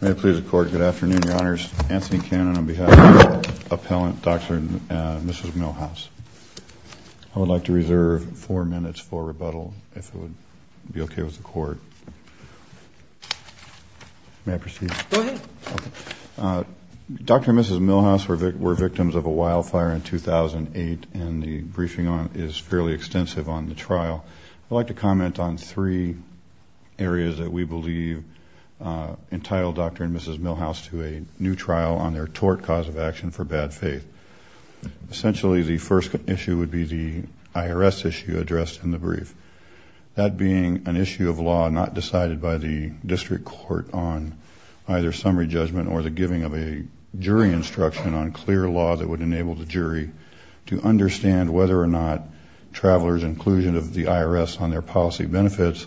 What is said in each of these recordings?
May it please the court, good afternoon, your honors. Anthony Cannon on behalf of the appellant, Dr. and Mrs. Milhouse. I would like to reserve four minutes for rebuttal if it would be okay with the court. May I proceed? Go ahead. Dr. and Mrs. Milhouse were victims of a wildfire in 2008 and the briefing is fairly extensive on the trial. I would like to comment on three areas that we believe entitled Dr. and Mrs. Milhouse to a new trial on their tort cause of action for bad faith. Essentially the first issue would be the IRS issue addressed in the brief. That being an issue of law not decided by the district court on either summary judgment or the giving of a jury instruction on clear law that would enable the jury to understand whether or not travelers inclusion of the IRS on their policy benefits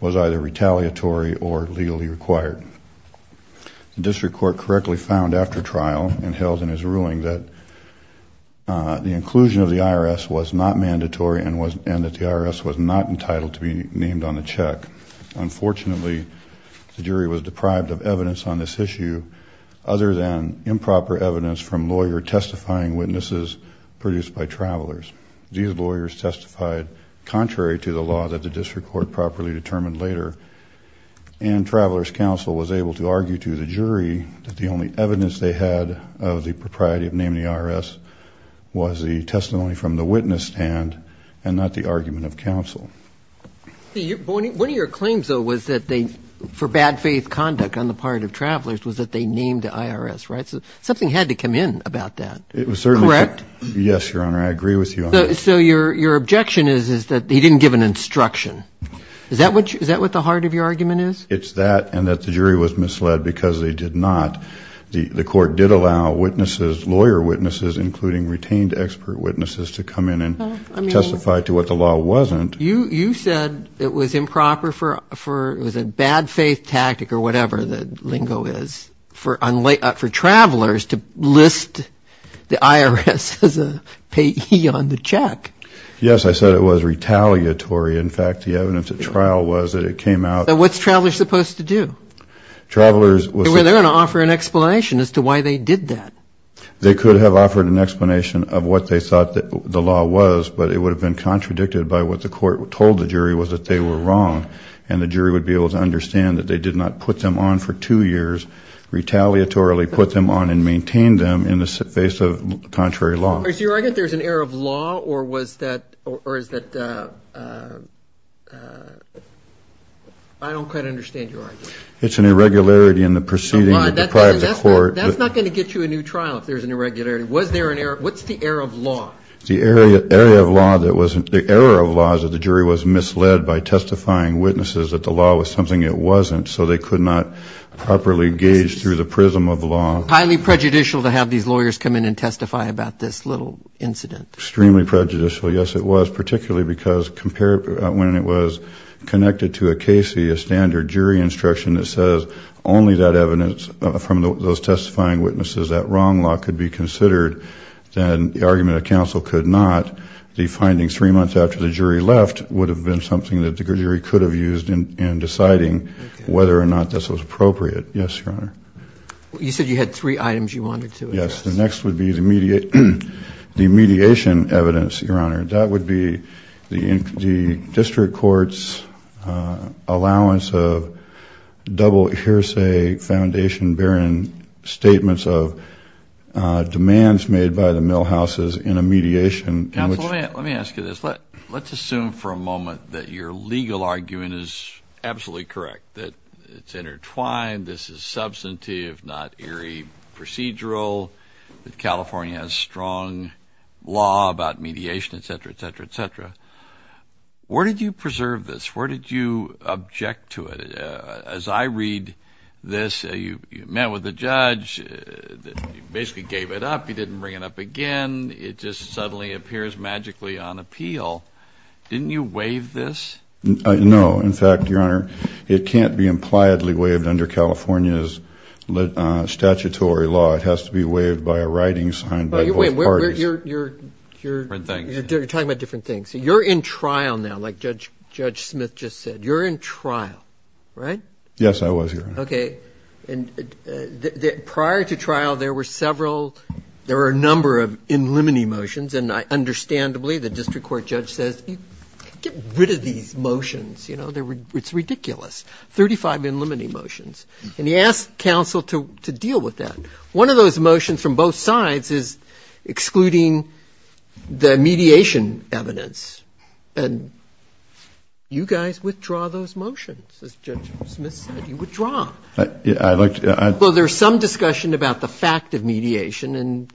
was either retaliatory or legally required. The district court correctly found after trial and held in his ruling that the inclusion of the IRS was not mandatory and that the IRS was not entitled to be named on the check. Unfortunately the jury was deprived of evidence on this issue other than improper evidence from lawyer testifying witnesses produced by travelers. These lawyers testified contrary to the law that the district court properly determined later. And travelers counsel was able to argue to the jury that the only evidence they had of the propriety of naming the IRS was the testimony from the witness stand and not the argument of counsel. One of your claims though was that they for bad faith conduct on the part of travelers was that they named the IRS. Right. So something had to come in about that. It was certainly correct. Yes, Your Honor. I agree with you. So your your objection is is that he didn't give an instruction. Is that what is that what the heart of your argument is. It's that and that the jury was misled because they did not. The court did allow witnesses lawyer witnesses including retained expert witnesses to come in and testify to what the law wasn't. You said it was improper for for it was a bad faith tactic or whatever the lingo is for unlaid up for travelers to list the IRS as a payee on the check. Yes I said it was retaliatory. In fact the evidence at trial was that it came out. What's travelers supposed to do. Travelers were there and offer an explanation as to why they did that. They could have offered an explanation of what they thought the law was but it would have been contradicted by what the court told the jury was that they were wrong. And the jury would be able to understand that they did not put them on for two years retaliatory put them on and maintain them in the face of contrary law. Is your argument there's an error of law or was that or is that I don't quite understand your argument. It's an irregularity in the proceeding. That's not going to get you a new trial if there's an irregularity. Was there an error. What's the error of law. The area area of law that wasn't the error of laws of the jury was misled by testifying witnesses that the law was something it wasn't. So they could not properly gauge through the prism of law. Highly prejudicial to have these lawyers come in and testify about this little incident. Extremely prejudicial. Yes it was. Particularly because compared when it was connected to a Casey a standard jury instruction that says only that evidence from those testifying witnesses that wrong law could be considered. Then the argument of counsel could not be finding three months after the jury left would have been something that the jury could have used in deciding whether or not this was appropriate. Yes. You said you had three items you wanted to. Yes. The next would be the media. The mediation evidence. Your Honor. That would be the district courts allowance of double hearsay foundation bearing statements of demands made by the mill houses in a mediation. Let me ask you this. Let's assume for a moment that your legal argument is absolutely correct that it's intertwined. This is substantive not eerie procedural. California has strong law about mediation etc. etc. etc. Where did you preserve this. Where did you object to it. As I read this you met with the judge. Basically gave it up. He didn't bring it up again. It just suddenly appears magically on appeal. Didn't you waive this. No. In fact Your Honor. It can't be impliedly waived under California's statutory law. It has to be waived by a writing signed by you. Wait. You're you're you're talking about different things. You're in trial now like Judge Judge Smith just said you're in trial. Right. Yes I was. OK. And prior to trial there were several. There are a number of in limiting motions and I understandably the district court judge says get rid of these motions. You know it's ridiculous. Thirty five in limiting motions. And he asked counsel to deal with that. One of those motions from both sides is excluding the mediation evidence. And you guys withdraw those motions. Judge Smith said you would draw. Yeah I'd like to. Well there's some discussion about the fact of mediation and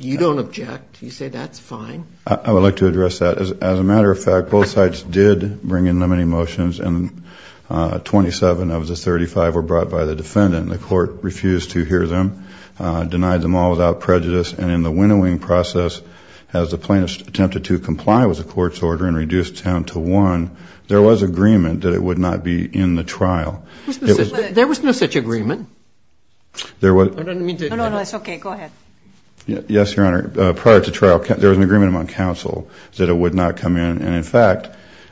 you don't object. You say that's fine. I would like to address that as a matter of fact both sides did bring in limiting motions and 27 of the 35 were brought by the defendant. The court refused to hear them denied them all without prejudice. And in the winnowing process as a plaintiff attempted to comply with the court's order and reduced town to one. There was agreement that it would not be in the trial. There was no such agreement. There was. I don't mean to. No, no, no. It's OK. Go ahead. Yes, Your Honor. Prior to trial there was an agreement among counsel that it would not come in. And in fact.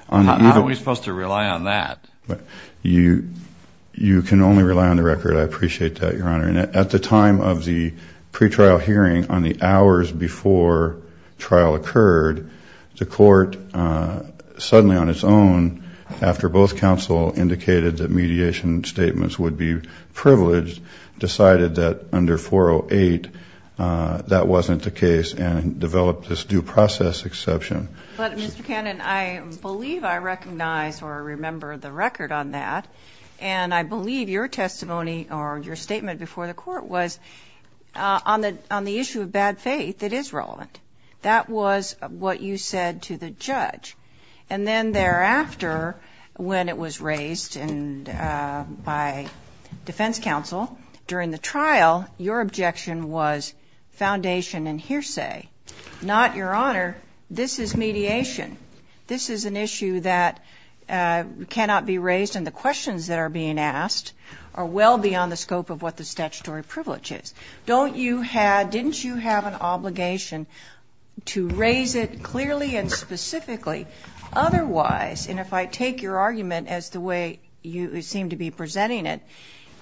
How are we supposed to rely on that? You can only rely on the record. I appreciate that, Your Honor. And at the time of the pre-trial hearing on the hours before trial occurred, the court suddenly on its own after both counsel indicated that mediation statements would be privileged decided that under 408 that wasn't the case and developed this due process exception. But Mr. Cannon, I believe I recognize or remember the record on that. And I believe your testimony or your statement before the court was on the issue of bad faith that is relevant. That was what you said to the judge. And then thereafter when it was raised by defense counsel during the trial, your objection was foundation and hearsay. Not, Your Honor, this is mediation. This is an issue that cannot be raised. And the questions that are being asked are well beyond the scope of what the statutory privilege is. Don't you have, didn't you have an obligation to raise it clearly and specifically? Otherwise, and if I take your argument as the way you seem to be presenting it,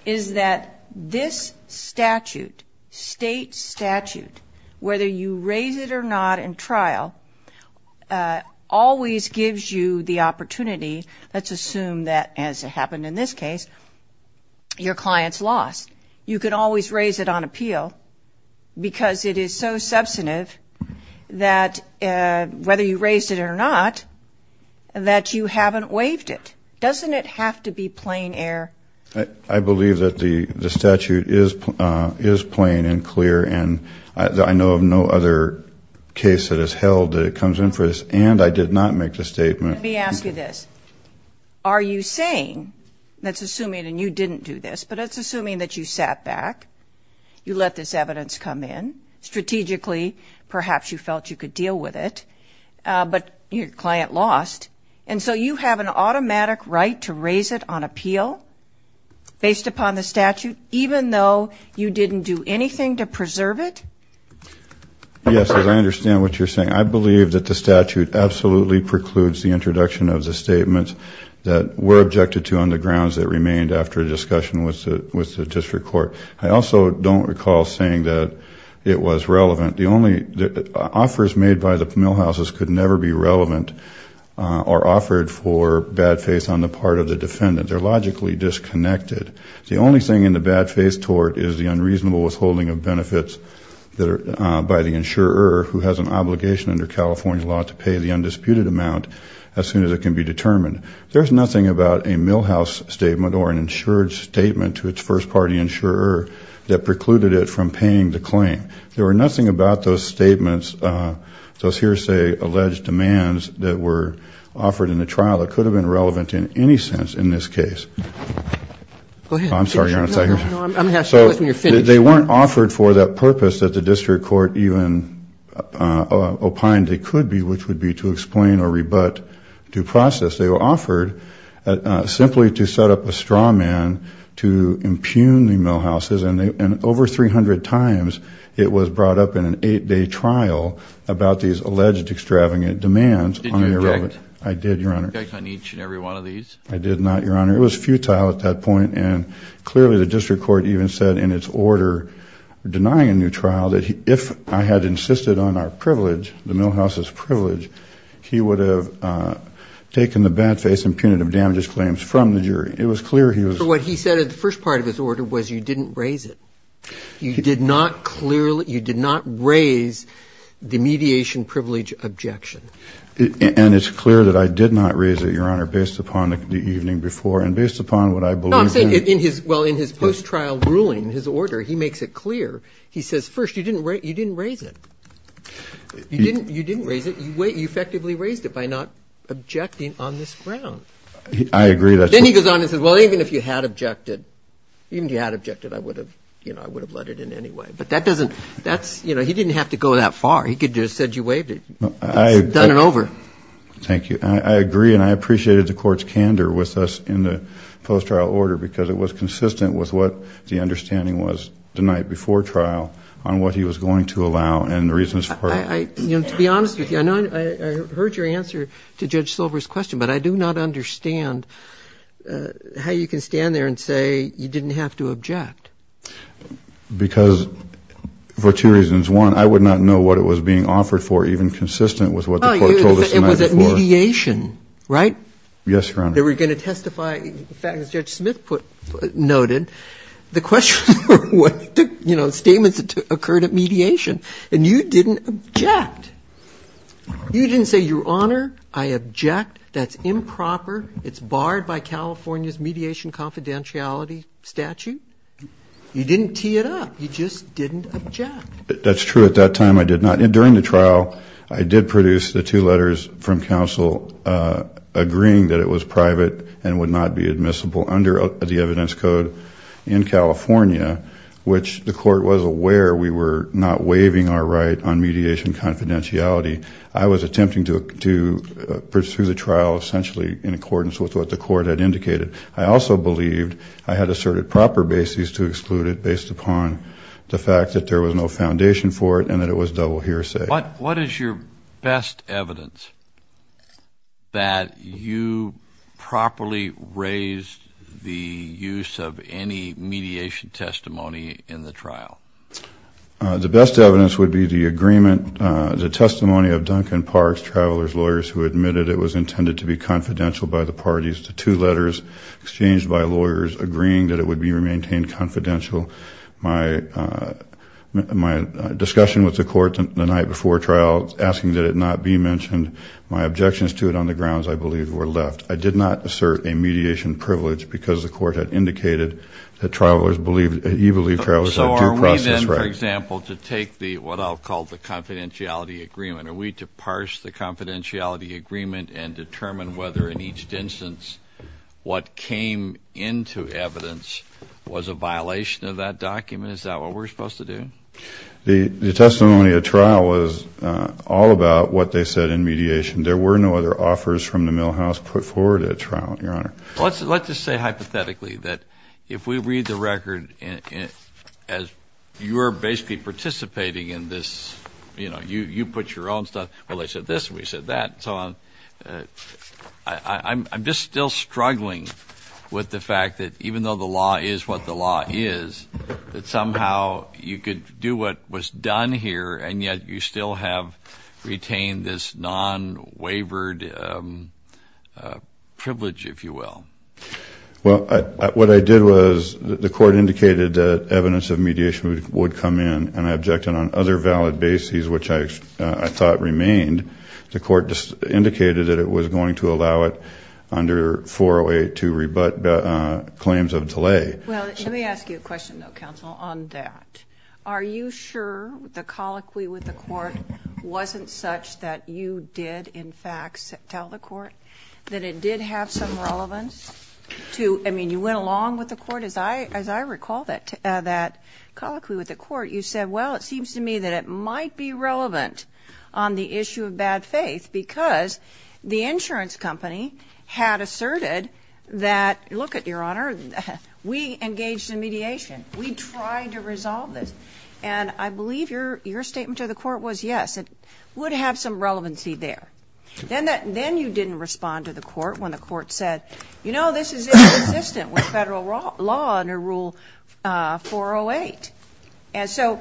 is that this statute, state statute, whether you raise it or not in trial, always gives you the opportunity, let's assume that as it happened in this case, your client's loss. You can always raise it on appeal because it is so substantive that whether you raised it or not, that you haven't waived it. Doesn't it have to be plain air? I believe that the statute is plain and clear, and I know of no other case that has held that it comes in for this, and I did not make the statement. Let me ask you this. Are you saying, that's assuming, and you didn't do this, but it's assuming that you sat back, you let this evidence come in, strategically perhaps you felt you could deal with it, but your client lost. And so you have an automatic right to raise it on appeal based upon the statute, even though you didn't do anything to preserve it? Yes, I understand what you're saying. I believe that the statute absolutely precludes the introduction of the statements that were objected to on the grounds that remained after a discussion with the district court. I also don't recall saying that it was relevant. Offers made by the millhouses could never be relevant or offered for bad faith on the part of the defendant. They're logically disconnected. The only thing in the bad faith tort is the unreasonable withholding of benefits by the insurer who has an obligation under California law to pay the undisputed amount as soon as it can be determined. There's nothing about a millhouse statement or an insured statement to its first party insurer that precluded it from paying the claim. There were nothing about those statements, those hearsay alleged demands that were offered in the trial that could have been relevant in any sense in this case. Go ahead. I'm sorry, Your Honor. I'm going to have to go with you when you're finished. They weren't offered for that purpose that the district court even opined they could be, which would be to explain or rebut due process. They were offered simply to set up a straw man to impugn the millhouses, and over 300 times it was brought up in an eight-day trial about these alleged extravagant demands. Did you object? I did, Your Honor. Did you object on each and every one of these? I did not, Your Honor. It was futile at that point, and clearly the district court even said in its order denying a new trial that if I had insisted on our privilege, the millhouse's privilege, he would have taken the bad faith impugnative damages claims from the jury. It was clear he was. What he said in the first part of his order was you didn't raise it. You did not raise the mediation privilege objection. And it's clear that I did not raise it, Your Honor, based upon the evening before and based upon what I believe in. Well, in his post-trial ruling, his order, he makes it clear. He says, first, you didn't raise it. You didn't raise it. You effectively raised it by not objecting on this ground. I agree. Then he goes on and says, well, even if you had objected, even if you had objected, I would have, you know, I would have let it in anyway. But that doesn't, that's, you know, he didn't have to go that far. He could have just said you waived it. Done and over. Thank you. I agree, and I appreciated the court's candor with us in the post-trial order because it was consistent with what the understanding was the night before trial on what he was going to allow and the reasons for it. You know, to be honest with you, I know I heard your answer to Judge Smith's question. I would not understand how you can stand there and say you didn't have to object. Because for two reasons. One, I would not know what it was being offered for, even consistent with what the court told us the night before. It was at mediation, right? Yes, Your Honor. They were going to testify. In fact, as Judge Smith noted, the question, you know, statements that occurred at mediation, and you didn't object. You didn't say, Your Honor, I object. That's improper. It's barred by California's mediation confidentiality statute. You didn't tee it up. You just didn't object. That's true. At that time, I did not. During the trial, I did produce the two letters from counsel agreeing that it was private and would not be admissible under the evidence code in California, which the court was aware we were not waiving our right on mediation confidentiality. I was attempting to pursue the trial essentially in accordance with what the court had indicated. I also believed I had asserted proper bases to exclude it based upon the fact that there was no foundation for it and that it was double hearsay. What is your best evidence that you properly raised the use of any mediation testimony in the trial? The best evidence would be the agreement, the testimony of Duncan Parks, travelers' lawyers who admitted it was intended to be confidential by the parties, the two letters exchanged by lawyers agreeing that it would be maintained confidential. My discussion with the court the night before trial asking that it not be mentioned, my objections to it on the grounds I believe were left. I did not assert a mediation privilege because the court had indicated that you believe travelers have due process rights. So are we then, for example, to take what I'll call the confidentiality agreement, are we to parse the confidentiality agreement and determine whether in each instance what came into evidence was a violation of that document? Is that what we're supposed to do? The testimony at trial was all about what they said in mediation. There were no other offers from the Milhouse put forward at trial, Your Honor. Well, let's just say hypothetically that if we read the record as you're basically participating in this, you know, you put your own stuff, well, they said this and we said that and so on, I'm just still struggling with the fact that even though the law is what the law is, that somehow you could do what was done here and yet you still have retained this non-waivered privilege, if you will. Well, what I did was the court indicated that evidence of mediation would come in and I objected on other valid bases which I thought remained. The court indicated that it was going to allow it under 408 to rebut claims of delay. Well, let me ask you a question, though, counsel, on that. Are you sure the colloquy with the court wasn't such that you did, in fact, tell the court that it did have some relevance to, I mean, you went along with the court as I recall that colloquy with the court, you said, well, it seems to me that it might be relevant on the issue of bad faith because the insurance company had asserted that, look it, Your Honor, we engaged in mediation. We tried to resolve this. And I believe your statement to the court was yes, it would have some relevancy there. Then you didn't respond to the court when the court said, you know, this is inconsistent with Federal law under Rule 408. And so,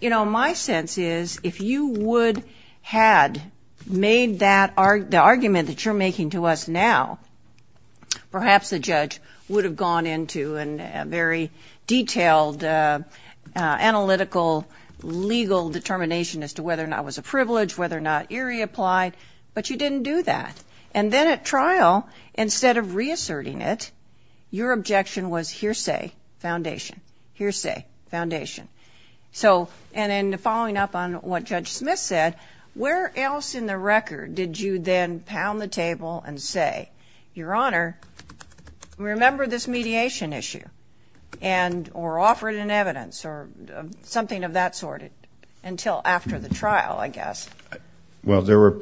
you know, my sense is if you would had made that argument that you're making to us now, perhaps the judge would have gone into a very detailed analytical legal determination as to whether or not it was a privilege, whether or not eerie applied, but you didn't do that. And then at trial, instead of reasserting it, your objection was hearsay foundation, hearsay foundation. So, and then following up on what Judge Smith said, where else in the record did you then pound the table and say, Your Honor, remember this mediation issue and or offer it in evidence or something of that sort until after the hearing? Well, there were,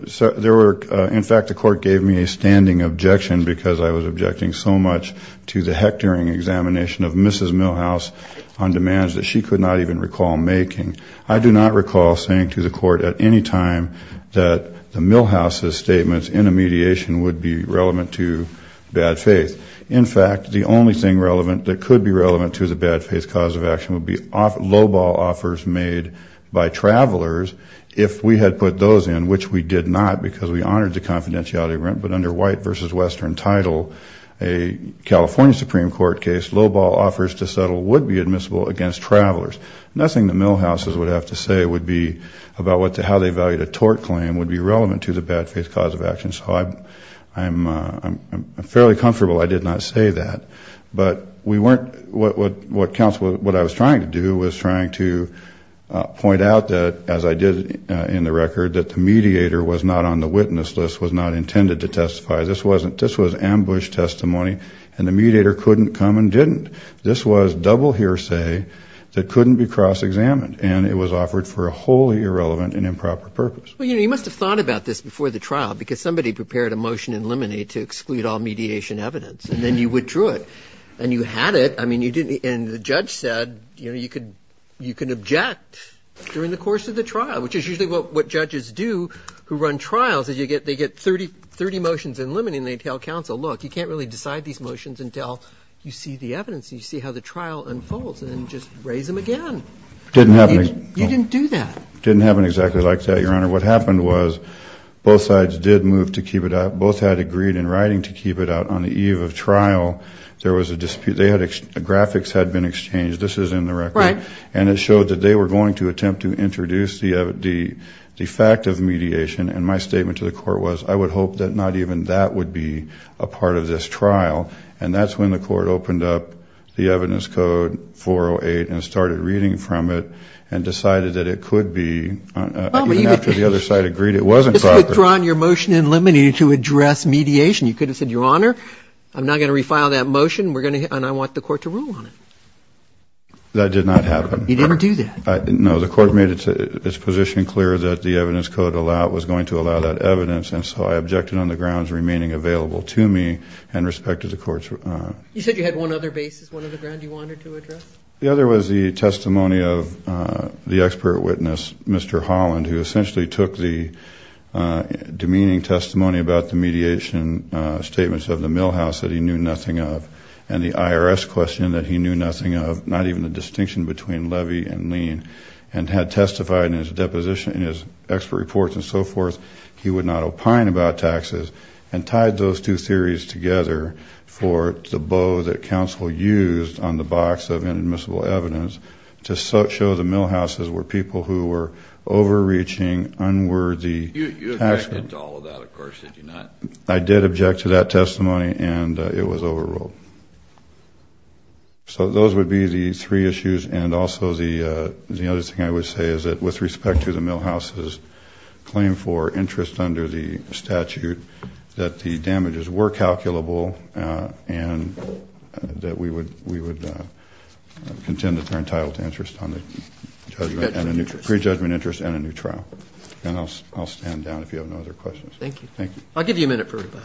in fact, the court gave me a standing objection because I was objecting so much to the Hectoring examination of Mrs. Milhouse on demands that she could not even recall making. I do not recall saying to the court at any time that the Milhouse's statements in a mediation would be relevant to bad faith. In fact, the only thing relevant that could be relevant to the bad faith cause of action would be lowball offers made by travelers if we had put those in, which we did not because we honored the confidentiality of rent. But under white versus western title, a California Supreme Court case, lowball offers to settle would be admissible against travelers. Nothing the Milhouse's would have to say would be about how they valued a tort claim would be relevant to the bad faith cause of action. So I'm fairly comfortable I did not say that. But we weren't, what counsel, what I was trying to do was trying to point out that, as I did in the record, that the mediator was not on the witness list, was not intended to testify. This was ambush testimony, and the mediator couldn't come and didn't. This was double hearsay that couldn't be cross-examined, and it was offered for a wholly irrelevant and improper purpose. Well, you must have thought about this before the trial because somebody prepared a motion in Lemonade to exclude all mediation evidence, and then you withdrew it. And you had it. I mean, you didn't, and the judge said, you know, you can object during the course of the trial, which is usually what judges do who run trials is they get 30 motions in Lemonade and they tell counsel, look, you can't really decide these motions until you see the evidence, you see how the trial unfolds, and then just raise them again. It didn't happen. You didn't do that. It didn't happen exactly like that, Your Honor. What happened was both sides did move to keep it out. In the case of the trial, there was a dispute. Graphics had been exchanged. This is in the record. Right. And it showed that they were going to attempt to introduce the fact of mediation, and my statement to the court was I would hope that not even that would be a part of this trial. And that's when the court opened up the evidence code, 408, and started reading from it and decided that it could be, even after the other side agreed it wasn't proper. You withdrew your motion in Lemonade to address mediation. You could have said, Your Honor, I'm not going to refile that motion, and I want the court to rule on it. That did not happen. You didn't do that. No. The court made its position clear that the evidence code was going to allow that evidence, and so I objected on the grounds remaining available to me and respect to the court's. You said you had one other basis, one other ground you wanted to address. The other was the testimony of the expert witness, Mr. Holland, who essentially took the demeaning testimony about the mediation statements of the millhouse that he knew nothing of, and the IRS question that he knew nothing of, not even the distinction between levy and lien, and had testified in his expert reports and so forth, he would not opine about taxes, and tied those two theories together for the bow that counsel used on the box of inadmissible evidence to show the millhouses were people who were overreaching, unworthy. You objected to all of that, of course, did you not? I did object to that testimony, and it was overruled. So those would be the three issues, and also the other thing I would say is that with respect to the millhouse's claim for interest under the statute, that the damages were calculable, and that we would contend that they're entitled to interest on the judgment interest and a new trial. And I'll stand down if you have no other questions. Thank you. Thank you. I'll give you a minute for rebuttal.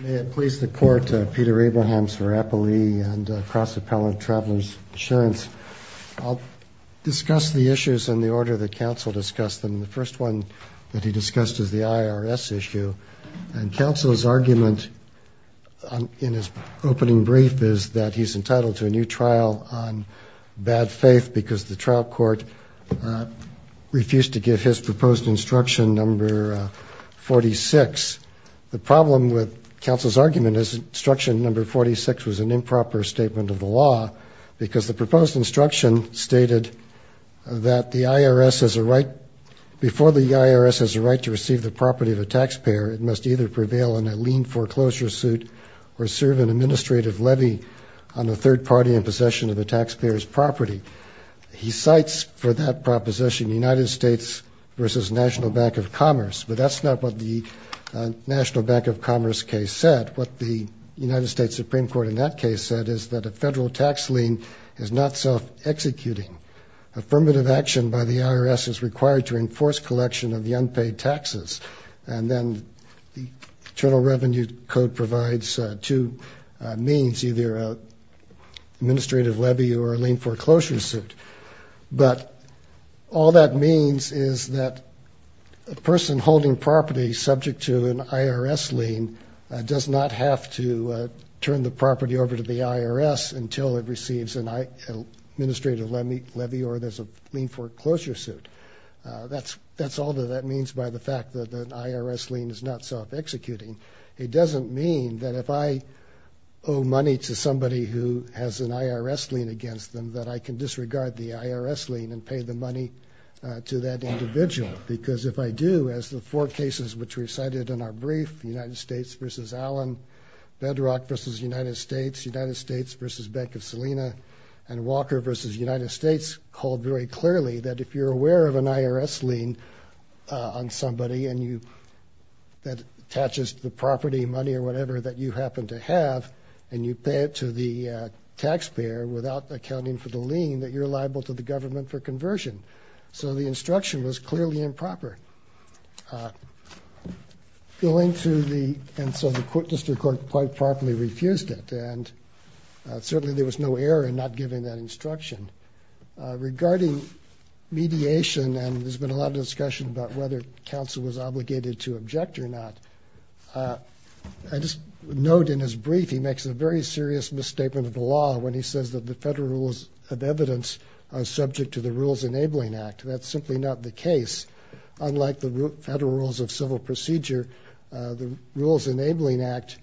May it please the Court, Peter Abrahams for Appallee and Cross Appellate Travelers Insurance. I'll discuss the issues in the order that counsel discussed them. The first one that he discussed is the IRS issue, and counsel's argument in his opening brief is that he's entitled to a new trial on bad faith because the trial court refused to give his proposed instruction number 46. The problem with counsel's argument is instruction number 46 was an improper statement of the law because the proposed instruction stated that the IRS has a right, before the IRS has a right to receive the property of a taxpayer, it must either prevail in a lien foreclosure suit or serve an administrative levy on the third party in possession of the taxpayer's property. He cites for that proposition the United States versus National Bank of Commerce, but that's not what the National Bank of Commerce case said. What the United States Supreme Court in that case said is that a federal tax lien is not self-executing. Affirmative action by the IRS is required to enforce collection of the unpaid taxes. And then the Internal Revenue Code provides two means, either an administrative levy or a lien foreclosure suit. But all that means is that a person holding property subject to an IRS lien does not have to turn the property over to the IRS until it receives an administrative levy or there's a lien foreclosure suit. That's all that that means by the fact that an IRS lien is not self-executing. It doesn't mean that if I owe money to somebody who has an IRS lien against them that I can disregard the IRS lien and pay the money to that individual. Because if I do, as the four cases which we cited in our brief, United States versus Allen, Bedrock versus United States, United States versus Bank of Salina, and Walker versus United States, it's called very clearly that if you're aware of an IRS lien on somebody and that attaches to the property, money, or whatever that you happen to have, and you pay it to the taxpayer without accounting for the lien, that you're liable to the government for conversion. So the instruction was clearly improper. And so the District Court quite properly refused it. And certainly there was no error in not giving that instruction. Regarding mediation, and there's been a lot of discussion about whether counsel was obligated to object or not, I just note in his brief, he makes a very serious misstatement of the law when he says that the federal rules of evidence are subject to the Rules Enabling Act. That's simply not the case. Unlike the Federal Rules of Civil Procedure, the Rules Enabling Act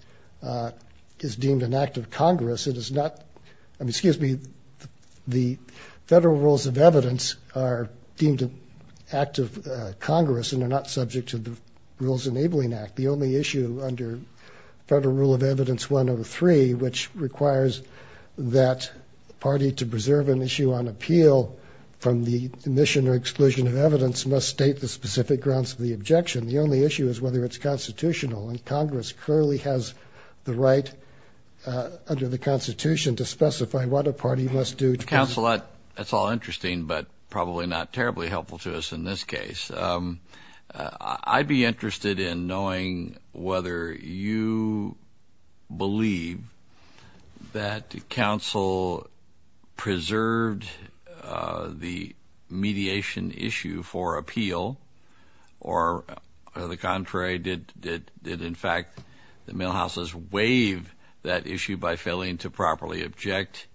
is deemed an act of Congress. It is not, I mean, excuse me, the Federal Rules of Evidence are deemed an act of Congress and are not subject to the Rules Enabling Act. The only issue under Federal Rule of Evidence 103, which requires that the party to preserve an issue on appeal from the admission or exclusion of evidence must state the specific grounds for the objection. The only issue is whether it's constitutional and Congress clearly has the right under the constitution to specify what a party must do. Counsel, that's all interesting, but probably not terribly helpful to us in this case. I'd be interested in knowing whether you believe that counsel preserved the contrary, did in fact the Milhouse's waive that issue by failing to properly object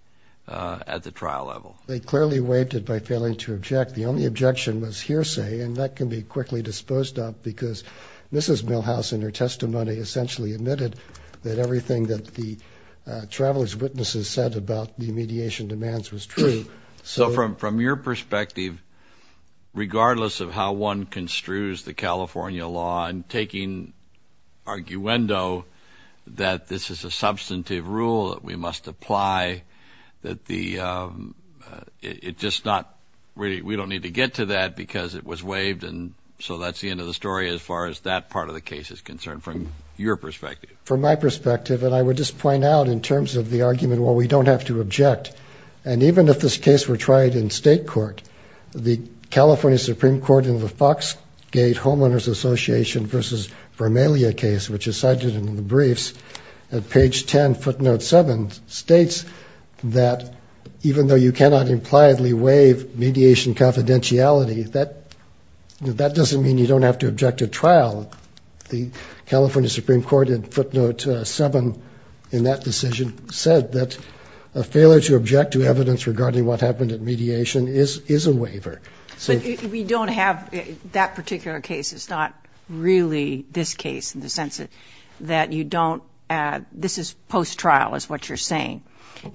at the trial level. They clearly waived it by failing to object. The only objection was hearsay, and that can be quickly disposed of because Mrs. Milhouse in her testimony essentially admitted that everything that the traveler's witnesses said about the mediation demands was true. So from your perspective, regardless of how one construes the California law and taking arguendo that this is a substantive rule that we must apply, that we don't need to get to that because it was waived, and so that's the end of the story as far as that part of the case is concerned from your perspective. From my perspective, and I would just point out in terms of the argument, well, we don't have to object. And even if this case were tried in state court, the California Supreme Court in the Foxgate Homeowners Association versus Vermalia case, which is cited in the briefs at page 10, footnote 7, states that even though you cannot impliedly waive mediation confidentiality, that doesn't mean you don't have to object at trial. The California Supreme Court in footnote 7 in that decision said that a subject to evidence regarding what happened at mediation is a waiver. But we don't have that particular case. It's not really this case in the sense that you don't, this is post-trial is what you're saying.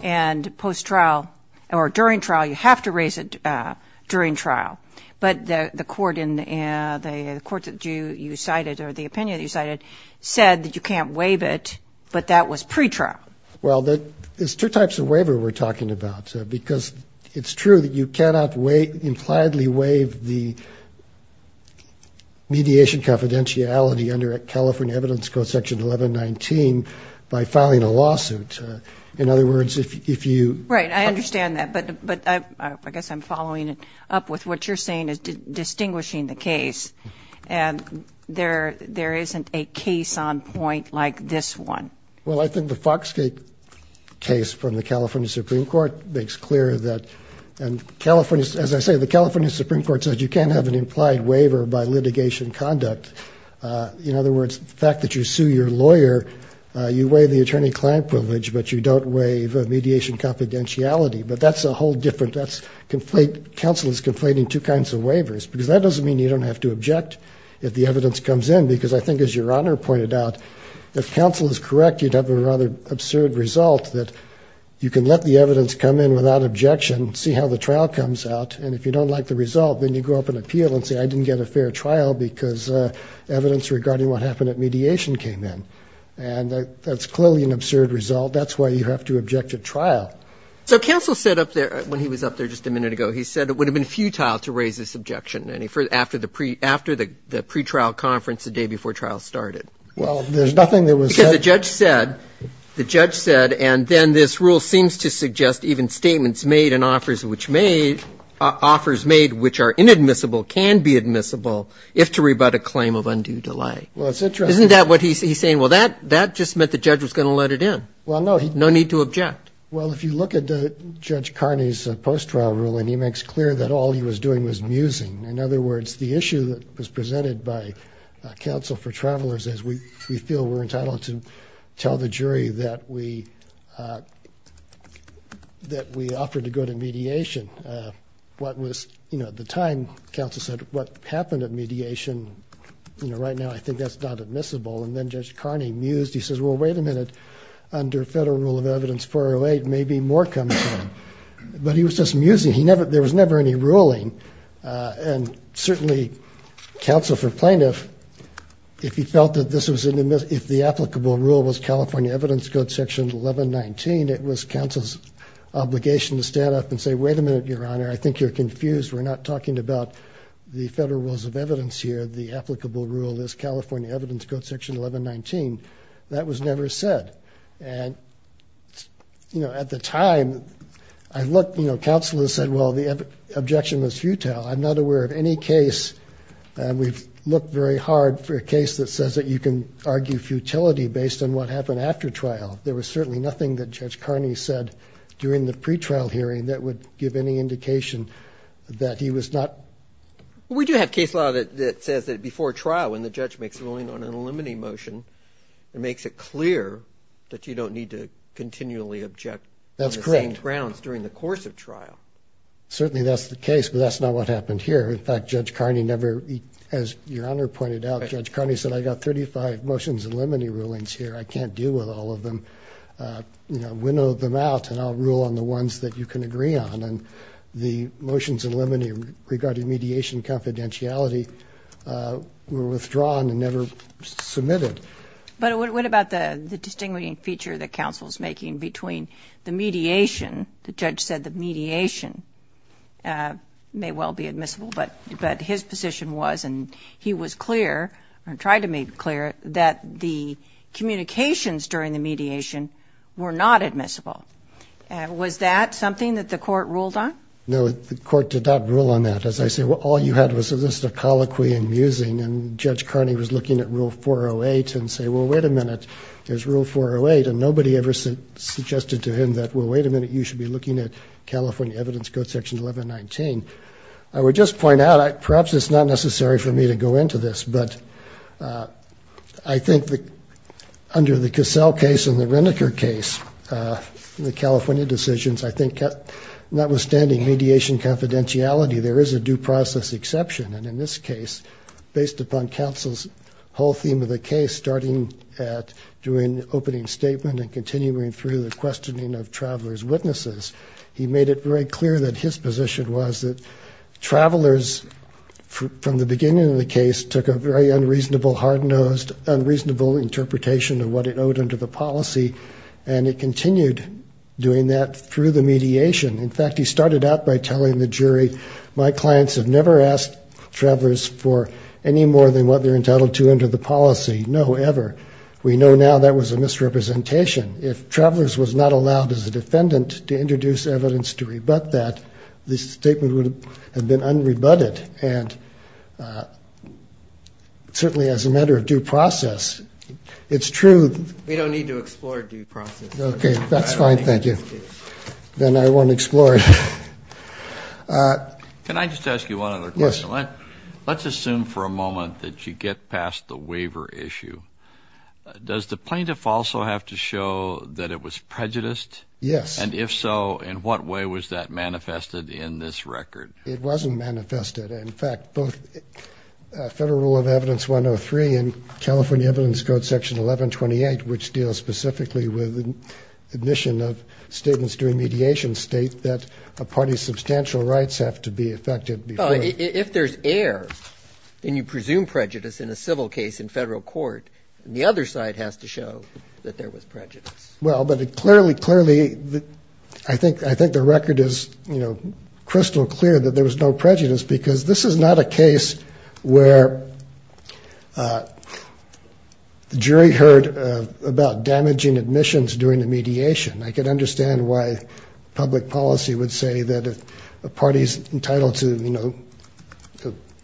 And post-trial or during trial, you have to raise it during trial. But the court that you cited or the opinion that you cited said that you can't waive it, but that was pre-trial. Well, there's two types of waiver we're talking about. Because it's true that you cannot waive, impliedly waive the mediation confidentiality under California evidence code section 1119 by filing a lawsuit. In other words, if you. Right, I understand that. But I guess I'm following up with what you're saying is distinguishing the case and there isn't a case on point like this one. Well, I think the Foxgate case from the California Supreme Court makes clear that, and California, as I say, the California Supreme Court said you can't have an implied waiver by litigation conduct. In other words, the fact that you sue your lawyer, you waive the attorney-client privilege, but you don't waive a mediation confidentiality. But that's a whole different, that's, counsel is conflating two kinds of waivers because that doesn't mean you don't have to object if the evidence comes in. Because I think as your Honor pointed out, if counsel is correct, you'd have a rather absurd result that you can let the evidence come in without objection, see how the trial comes out. And if you don't like the result, then you go up and appeal and say I didn't get a fair trial because evidence regarding what happened at mediation came in. And that's clearly an absurd result. That's why you have to object at trial. So counsel said up there, when he was up there just a minute ago, he said it would have been futile to raise this objection. And he, after the pretrial conference the day before trial started. Well, there's nothing that was said. Because the judge said, the judge said, and then this rule seems to suggest even statements made and offers which made, offers made which are inadmissible can be admissible if to rebut a claim of undue delay. Well, it's interesting. Isn't that what he's saying? Well, that just meant the judge was going to let it in. Well, no. No need to object. Well, if you look at Judge Carney's post-trial ruling, he makes clear that all he was doing was musing. In other words, the issue that was presented by counsel for travelers as we feel we're entitled to tell the jury that we, that we offered to go to mediation. What was, you know, at the time counsel said what happened at mediation, you know, right now I think that's not admissible. And then Judge Carney mused. He says, well, wait a minute. Under federal rule of evidence 408, maybe more comes in, but he was just musing. He never, there was never any ruling. And certainly counsel for plaintiff, if he felt that this was an admissible, if the applicable rule was California evidence code section 1119, it was counsel's obligation to stand up and say, wait a minute, your honor. I think you're confused. We're not talking about the federal rules of evidence here. The applicable rule is California evidence code section 1119. That was never said. And, you know, at the time I looked, you know, counsel has said, well, the objection was futile. I'm not aware of any case. We've looked very hard for a case that says that you can argue futility based on what happened after trial. There was certainly nothing that Judge Carney said during the pretrial hearing that would give any indication that he was not. We do have case law that says that before trial, when the judge makes a ruling on an eliminating motion, it makes it clear that you don't need to continually object. That's correct. Grounds during the course of trial. Certainly that's the case, but that's not what happened here. In fact, Judge Carney never, as your honor pointed out, Judge Carney said, I got 35 motions and limiting rulings here. I can't deal with all of them, you know, window them out and I'll rule on the ones that you can agree on. And the motions and limiting regarding mediation confidentiality were withdrawn and never submitted. But what about the, the distinguishing feature that counsel's making between the mediation, the judge said the mediation may well be admissible, but his position was, and he was clear, or tried to make clear that the communications during the mediation were not admissible. Was that something that the court ruled on? No, the court did not rule on that. As I say, well, all you had was a list of colloquy and musing. And Judge Carney was looking at rule 408 and say, well, wait a minute. There's rule 408 and nobody ever suggested to him that, well, wait a minute. You should be looking at California evidence code section 1119. I would just point out, perhaps it's not necessary for me to go into this, but I think that under the Cassell case and the Reneker case, the California decisions, I think notwithstanding mediation confidentiality, there is a due process exception. And in this case, based upon counsel's whole theme of the case, starting at doing the opening statement and continuing through the questioning of travelers' witnesses, he made it very clear that his position was that travelers, from the beginning of the case, took a very unreasonable, hard-nosed, unreasonable interpretation of what it owed under the policy, and it continued doing that through the mediation. In fact, he started out by telling the jury, my clients have never asked travelers for any more than what they're entitled to under the policy, no, ever. We know now that was a misrepresentation. If travelers was not allowed as a defendant to introduce evidence to rebut that, the statement would have been unrebutted, and certainly as a matter of due process, it's true. We don't need to explore due process. Okay, that's fine. Thank you. Then I won't explore it. Can I just ask you one other question? Yes. Let's assume for a moment that you get past the waiver issue. Does the plaintiff also have to show that it was prejudiced? Yes. And if so, in what way was that manifested in this record? It wasn't manifested. In fact, both Federal Rule of Evidence 103 and California Evidence Code Section 1128, which deals specifically with admission of statements during mediation, state that a party's substantial rights have to be affected before. If there's error, then you presume prejudice in a civil case in federal court, and the other side has to show that there was prejudice. Well, but it clearly, clearly, I think the record is, you know, crystal clear that there was no prejudice, because this is not a case where the jury heard about damaging admissions during the mediation. I can understand why public policy would say that a party's entitled to, you know,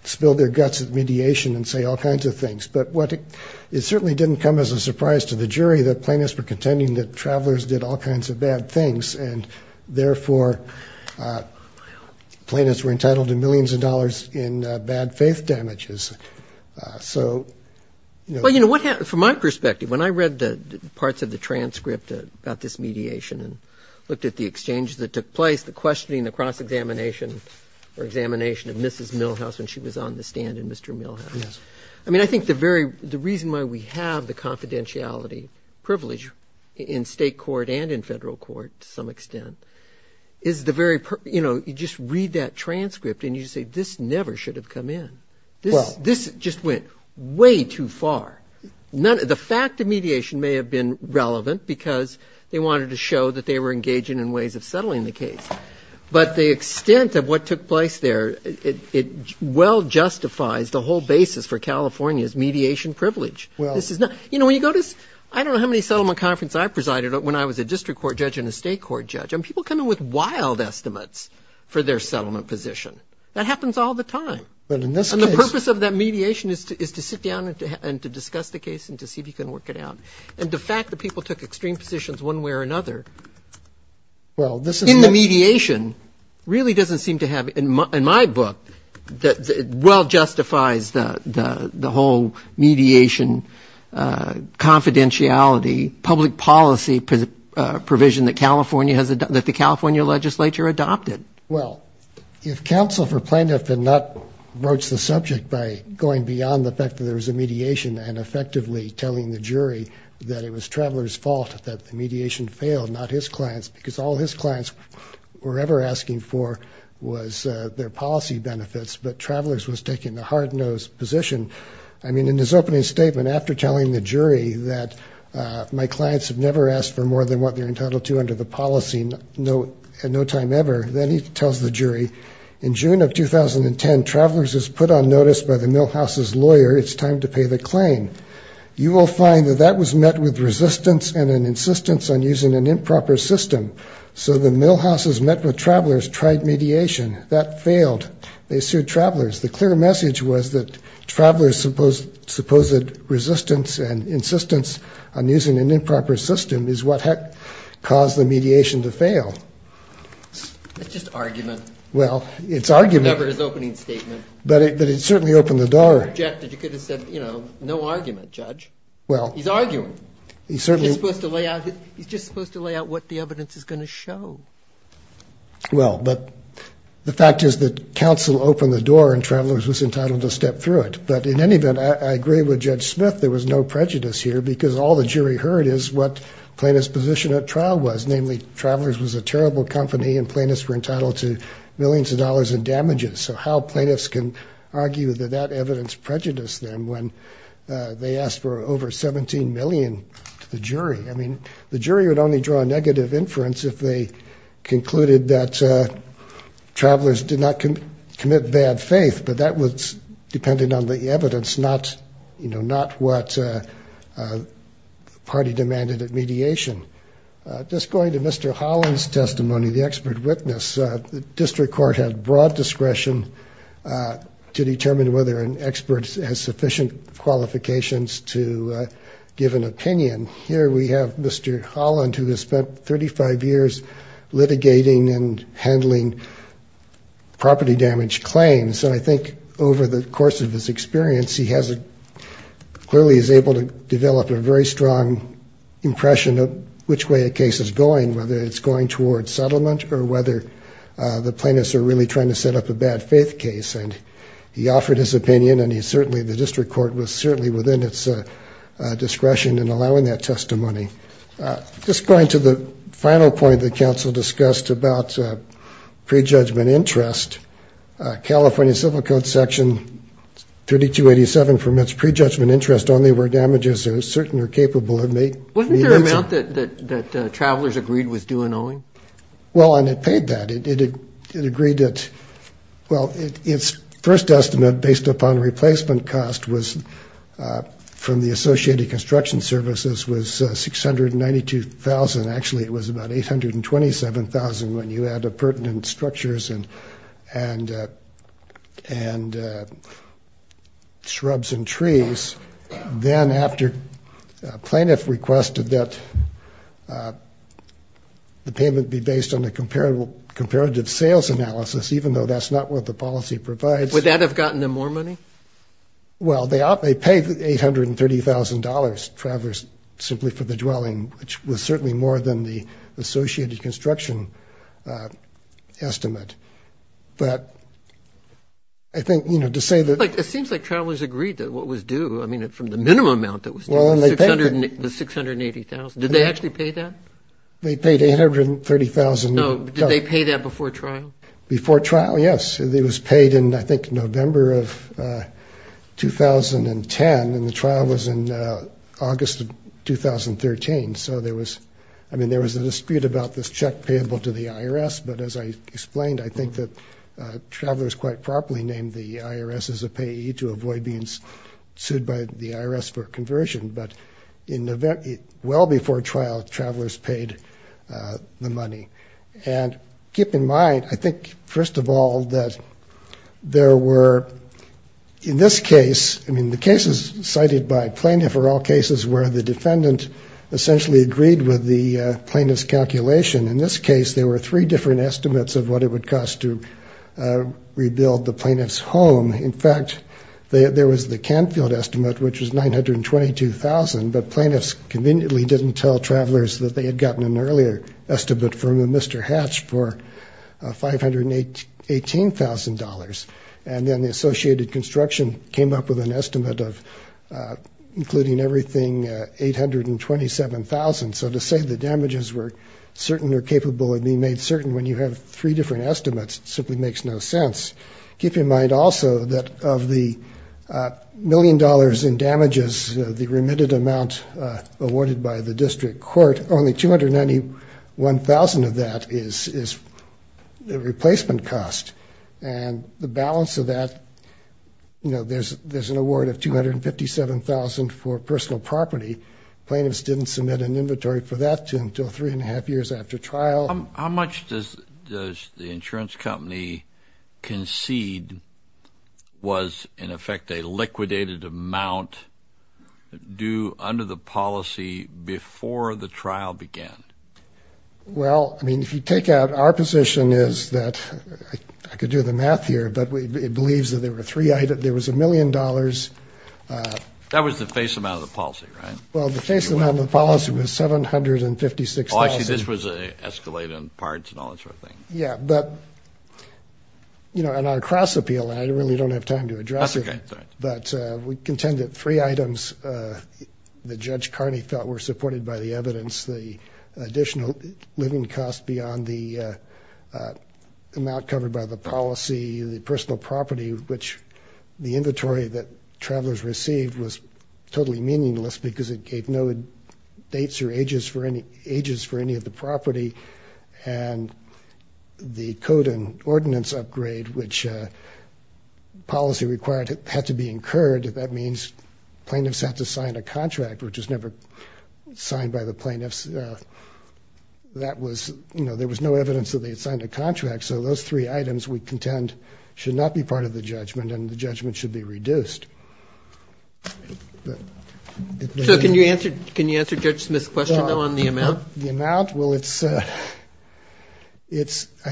spill their guts at mediation and say all kinds of things. But it certainly didn't come as a surprise to the jury that plaintiffs were contending that travelers did all kinds of bad things, and therefore plaintiffs were entitled to millions of dollars in bad faith damages. So, you know. Well, you know, from my perspective, when I read the parts of the transcript about this mediation and looked at the exchanges that took place, the questioning, the cross-examination or examination of Mrs. Milhouse when she was on the stand in Mr. Milhouse. Yes. I mean, I think the very, the reason why we have the confidentiality privilege in state court and in federal court to some extent is the very, you know, you just read that transcript and you say this never should have come in. This just went way too far. The fact of mediation may have been relevant because they wanted to show that they were engaging in ways of settling the case. But the extent of what took place there, it well justifies the whole basis for California's mediation privilege. You know, when you go to, I don't know how many settlement conferences I presided at when I was a district court judge and a state court judge, and people come in with wild estimates for their settlement position. That happens all the time. But in this case. And the purpose of that mediation is to sit down and to discuss the case and to see if you can work it out. And the fact that people took extreme positions one way or another in the mediation really doesn't seem to have, in my book, well justifies the whole mediation confidentiality, public policy provision that the California legislature adopted. Well, if counsel for plaintiff had not broached the subject by going beyond the fact that there was a mediation and effectively telling the jury that it was traveler's fault that the mediation failed, not his client's, because all his clients were ever asking for was their policy benefits, but travelers was taking the hard-nosed position. I mean, in his opening statement, after telling the jury that my clients have never asked for more than what they're entitled to under the policy at no time ever, then he tells the jury, in June of 2010, travelers was put on notice by the millhouse's lawyer, it's time to pay the claim. You will find that that was met with resistance and an insistence on using an improper system. So the millhouse's met with travelers, tried mediation, that failed. They sued travelers. The clear message was that travelers supposed resistance and insistence on using an improper system is what had caused the mediation to fail. It's just argument. Well, it's argument. Never his opening statement. But it certainly opened the door. You could have said, you know, no argument, Judge. He's arguing. He's just supposed to lay out what the evidence is going to show. Well, but the fact is that counsel opened the door and travelers was entitled to step through it. But in any event, I agree with Judge Smith. There was no prejudice here because all the jury heard is what plaintiff's position at trial was, namely travelers was a terrible company and plaintiffs were entitled to millions of dollars in damages. So how plaintiffs can argue that that evidence prejudiced them when they asked for over 17 million to the jury? I mean, the jury would only draw a negative inference if they concluded that travelers did not commit bad faith. But that was dependent on the evidence, not, you know, not what the party demanded at mediation. Just going to Mr. Holland's testimony, the expert witness, the district court had broad discretion to determine whether an expert has sufficient qualifications to give an opinion. Here we have Mr. Holland, who has spent 35 years litigating and handling property damage claims. And I think over the course of his experience, he clearly is able to develop a very strong impression of which way a case is going, whether it's going towards settlement or whether the plaintiffs are really trying to set up a bad faith case. And he offered his opinion, and the district court was certainly within its discretion in allowing that testimony. Just going to the final point that counsel discussed about prejudgment interest, California Civil Code Section 3287 permits prejudgment interest only where damages are certain or capable. Wasn't there an amount that travelers agreed was due in owing? Well, and it paid that. It agreed that, well, its first estimate based upon replacement cost was from the Associated Construction Services was $692,000. Actually, it was about $827,000 when you add the pertinent structures and shrubs and trees. Then after plaintiff requested that the payment be based on the comparative sales analysis, even though that's not what the policy provides. Would that have gotten them more money? Well, they paid $830,000, travelers, simply for the dwelling, which was certainly more than the Associated Construction estimate. But I think, you know, to say that... It seems like travelers agreed that what was due, I mean, from the minimum amount that was due, was $680,000. Did they actually pay that? They paid $830,000. No, did they pay that before trial? Before trial, yes. It was paid in, I think, November of 2010, and the trial was in August of 2013. So there was, I mean, there was a dispute about this check payable to the IRS. But as I explained, I think that travelers quite properly named the IRS as a payee to avoid being sued by the IRS for conversion. But well before trial, travelers paid the money. And keep in mind, I think, first of all, that there were, in this case, I mean, the cases cited by plaintiff are all cases where the defendant essentially agreed with the plaintiff's calculation. In this case, there were three different estimates of what it would cost to rebuild the plaintiff's home. In fact, there was the Canfield estimate, which was $922,000, but plaintiffs conveniently didn't tell travelers that they had gotten an earlier estimate from Mr. Hatch for $518,000. And then the associated construction came up with an estimate of, including everything, $827,000. So to say the damages were certain or capable of being made certain when you have three different estimates simply makes no sense. Keep in mind also that of the million dollars in damages, the remitted amount awarded by the district court, only $291,000 of that is the replacement cost. And the balance of that, you know, there's an award of $257,000 for personal property. Plaintiffs didn't submit an inventory for that until three and a half years after trial. How much does the insurance company concede was, in effect, a liquidated amount due under the policy before the trial began? Well, I mean, if you take out our position is that I could do the math here, but it believes that there were three items. There was a million dollars. That was the face amount of the policy, right? Well, the face amount of the policy was $756,000. Oh, I see. This was escalated in parts and all that sort of thing. Yeah, but, you know, in our cross-appeal, and I really don't have time to address it. That's okay. But we contend that three items that Judge Carney felt were supported by the evidence, the additional living costs beyond the amount covered by the policy, the personal property, which the inventory that travelers received was totally meaningless because it gave no dates or ages for any of the property, and the code and ordinance upgrade, which policy required had to be incurred. That means plaintiffs had to sign a contract, which was never signed by the plaintiffs. That was, you know, there was no evidence that they had signed a contract. So those three items, we contend, should not be part of the judgment, and the judgment should be reduced. So can you answer Judge Smith's question on the amount? The amount? Well, it's, I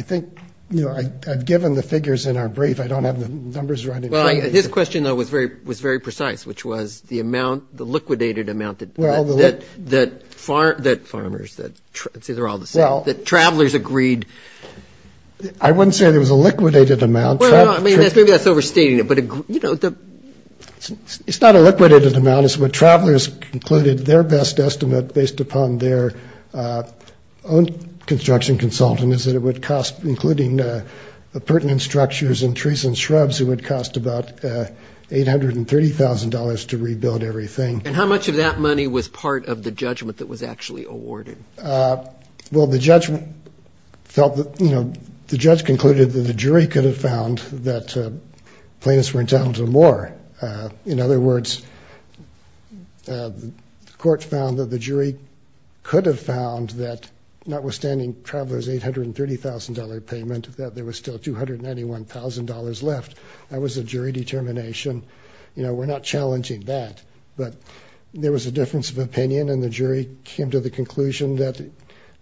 think, you know, I've given the figures in our brief. I don't have the numbers right in front of me. Well, his question, though, was very precise, which was the amount, the liquidated amount that farmers, that travelers agreed. I wouldn't say there was a liquidated amount. Well, I mean, maybe that's overstating it, but, you know. It's not a liquidated amount. It's what travelers concluded their best estimate based upon their own construction consultant, is that it would cost, including the pertinent structures and trees and shrubs, it would cost about $830,000 to rebuild everything. And how much of that money was part of the judgment that was actually awarded? Well, the judgment felt that, you know, the judge concluded that the jury could have found that plaintiffs were entitled to more. In other words, the court found that the jury could have found that, notwithstanding travelers' $830,000 payment, that there was still $291,000 left. That was a jury determination. You know, we're not challenging that. But there was a difference of opinion, and the jury came to the conclusion that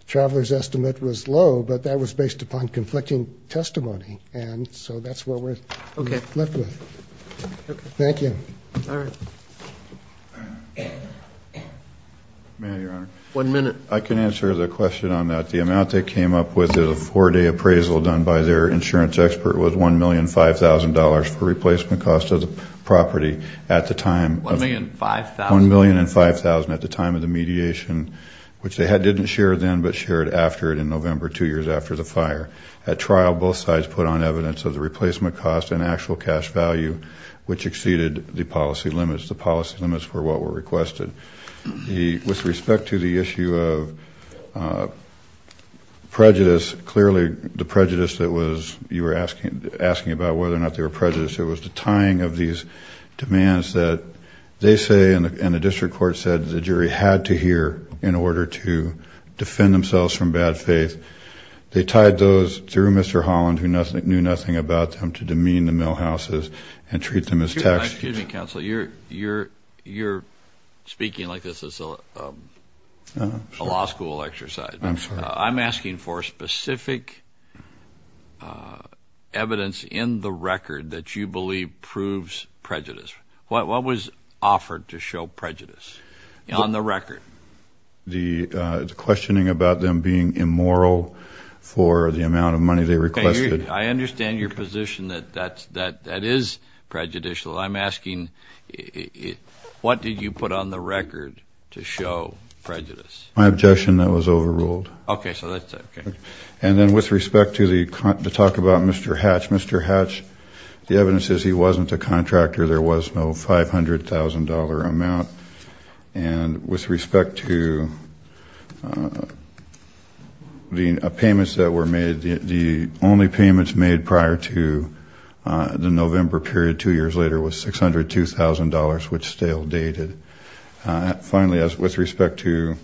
travelers' estimate was low, but that was based upon conflicting testimony. And so that's what we're left with. Thank you. All right. May I, Your Honor? One minute. I can answer the question on that. The amount they came up with in a four-day appraisal done by their insurance expert was $1,005,000 for replacement cost of the property at the time. $1,005,000? $1,005,000 at the time of the mediation, which they didn't share then but shared after it in November, two years after the fire. At trial, both sides put on evidence of the replacement cost and actual cash value, which exceeded the policy limits. The policy limits were what were requested. With respect to the issue of prejudice, clearly the prejudice that you were asking about, whether or not they were prejudiced, it was the tying of these demands that they say and the district court said the jury had to hear in order to defend themselves from bad faith. They tied those through Mr. Holland, who knew nothing about them, to demean the millhouses and treat them as text. Excuse me, counsel. You're speaking like this is a law school exercise. I'm sorry. You're asking for specific evidence in the record that you believe proves prejudice. What was offered to show prejudice on the record? The questioning about them being immoral for the amount of money they requested. I understand your position that that is prejudicial. I'm asking what did you put on the record to show prejudice? My objection that it was overruled. Okay. And then with respect to the talk about Mr. Hatch, Mr. Hatch, the evidence is he wasn't a contractor. There was no $500,000 amount. And with respect to the payments that were made, the only payments made prior to the November period two years later was $602,000, which stale dated. Finally, with respect to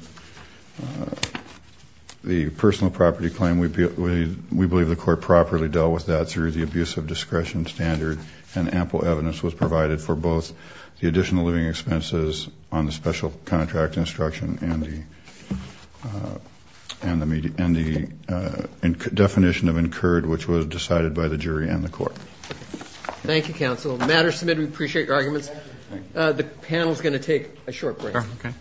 the personal property claim, we believe the court properly dealt with that through the abuse of discretion standard and ample evidence was provided for both the additional living expenses on the special contract instruction and the definition of incurred, which was decided by the jury and the court. Thank you, counsel. The matter is submitted. We appreciate your arguments. The panel is going to take a short break. Okay.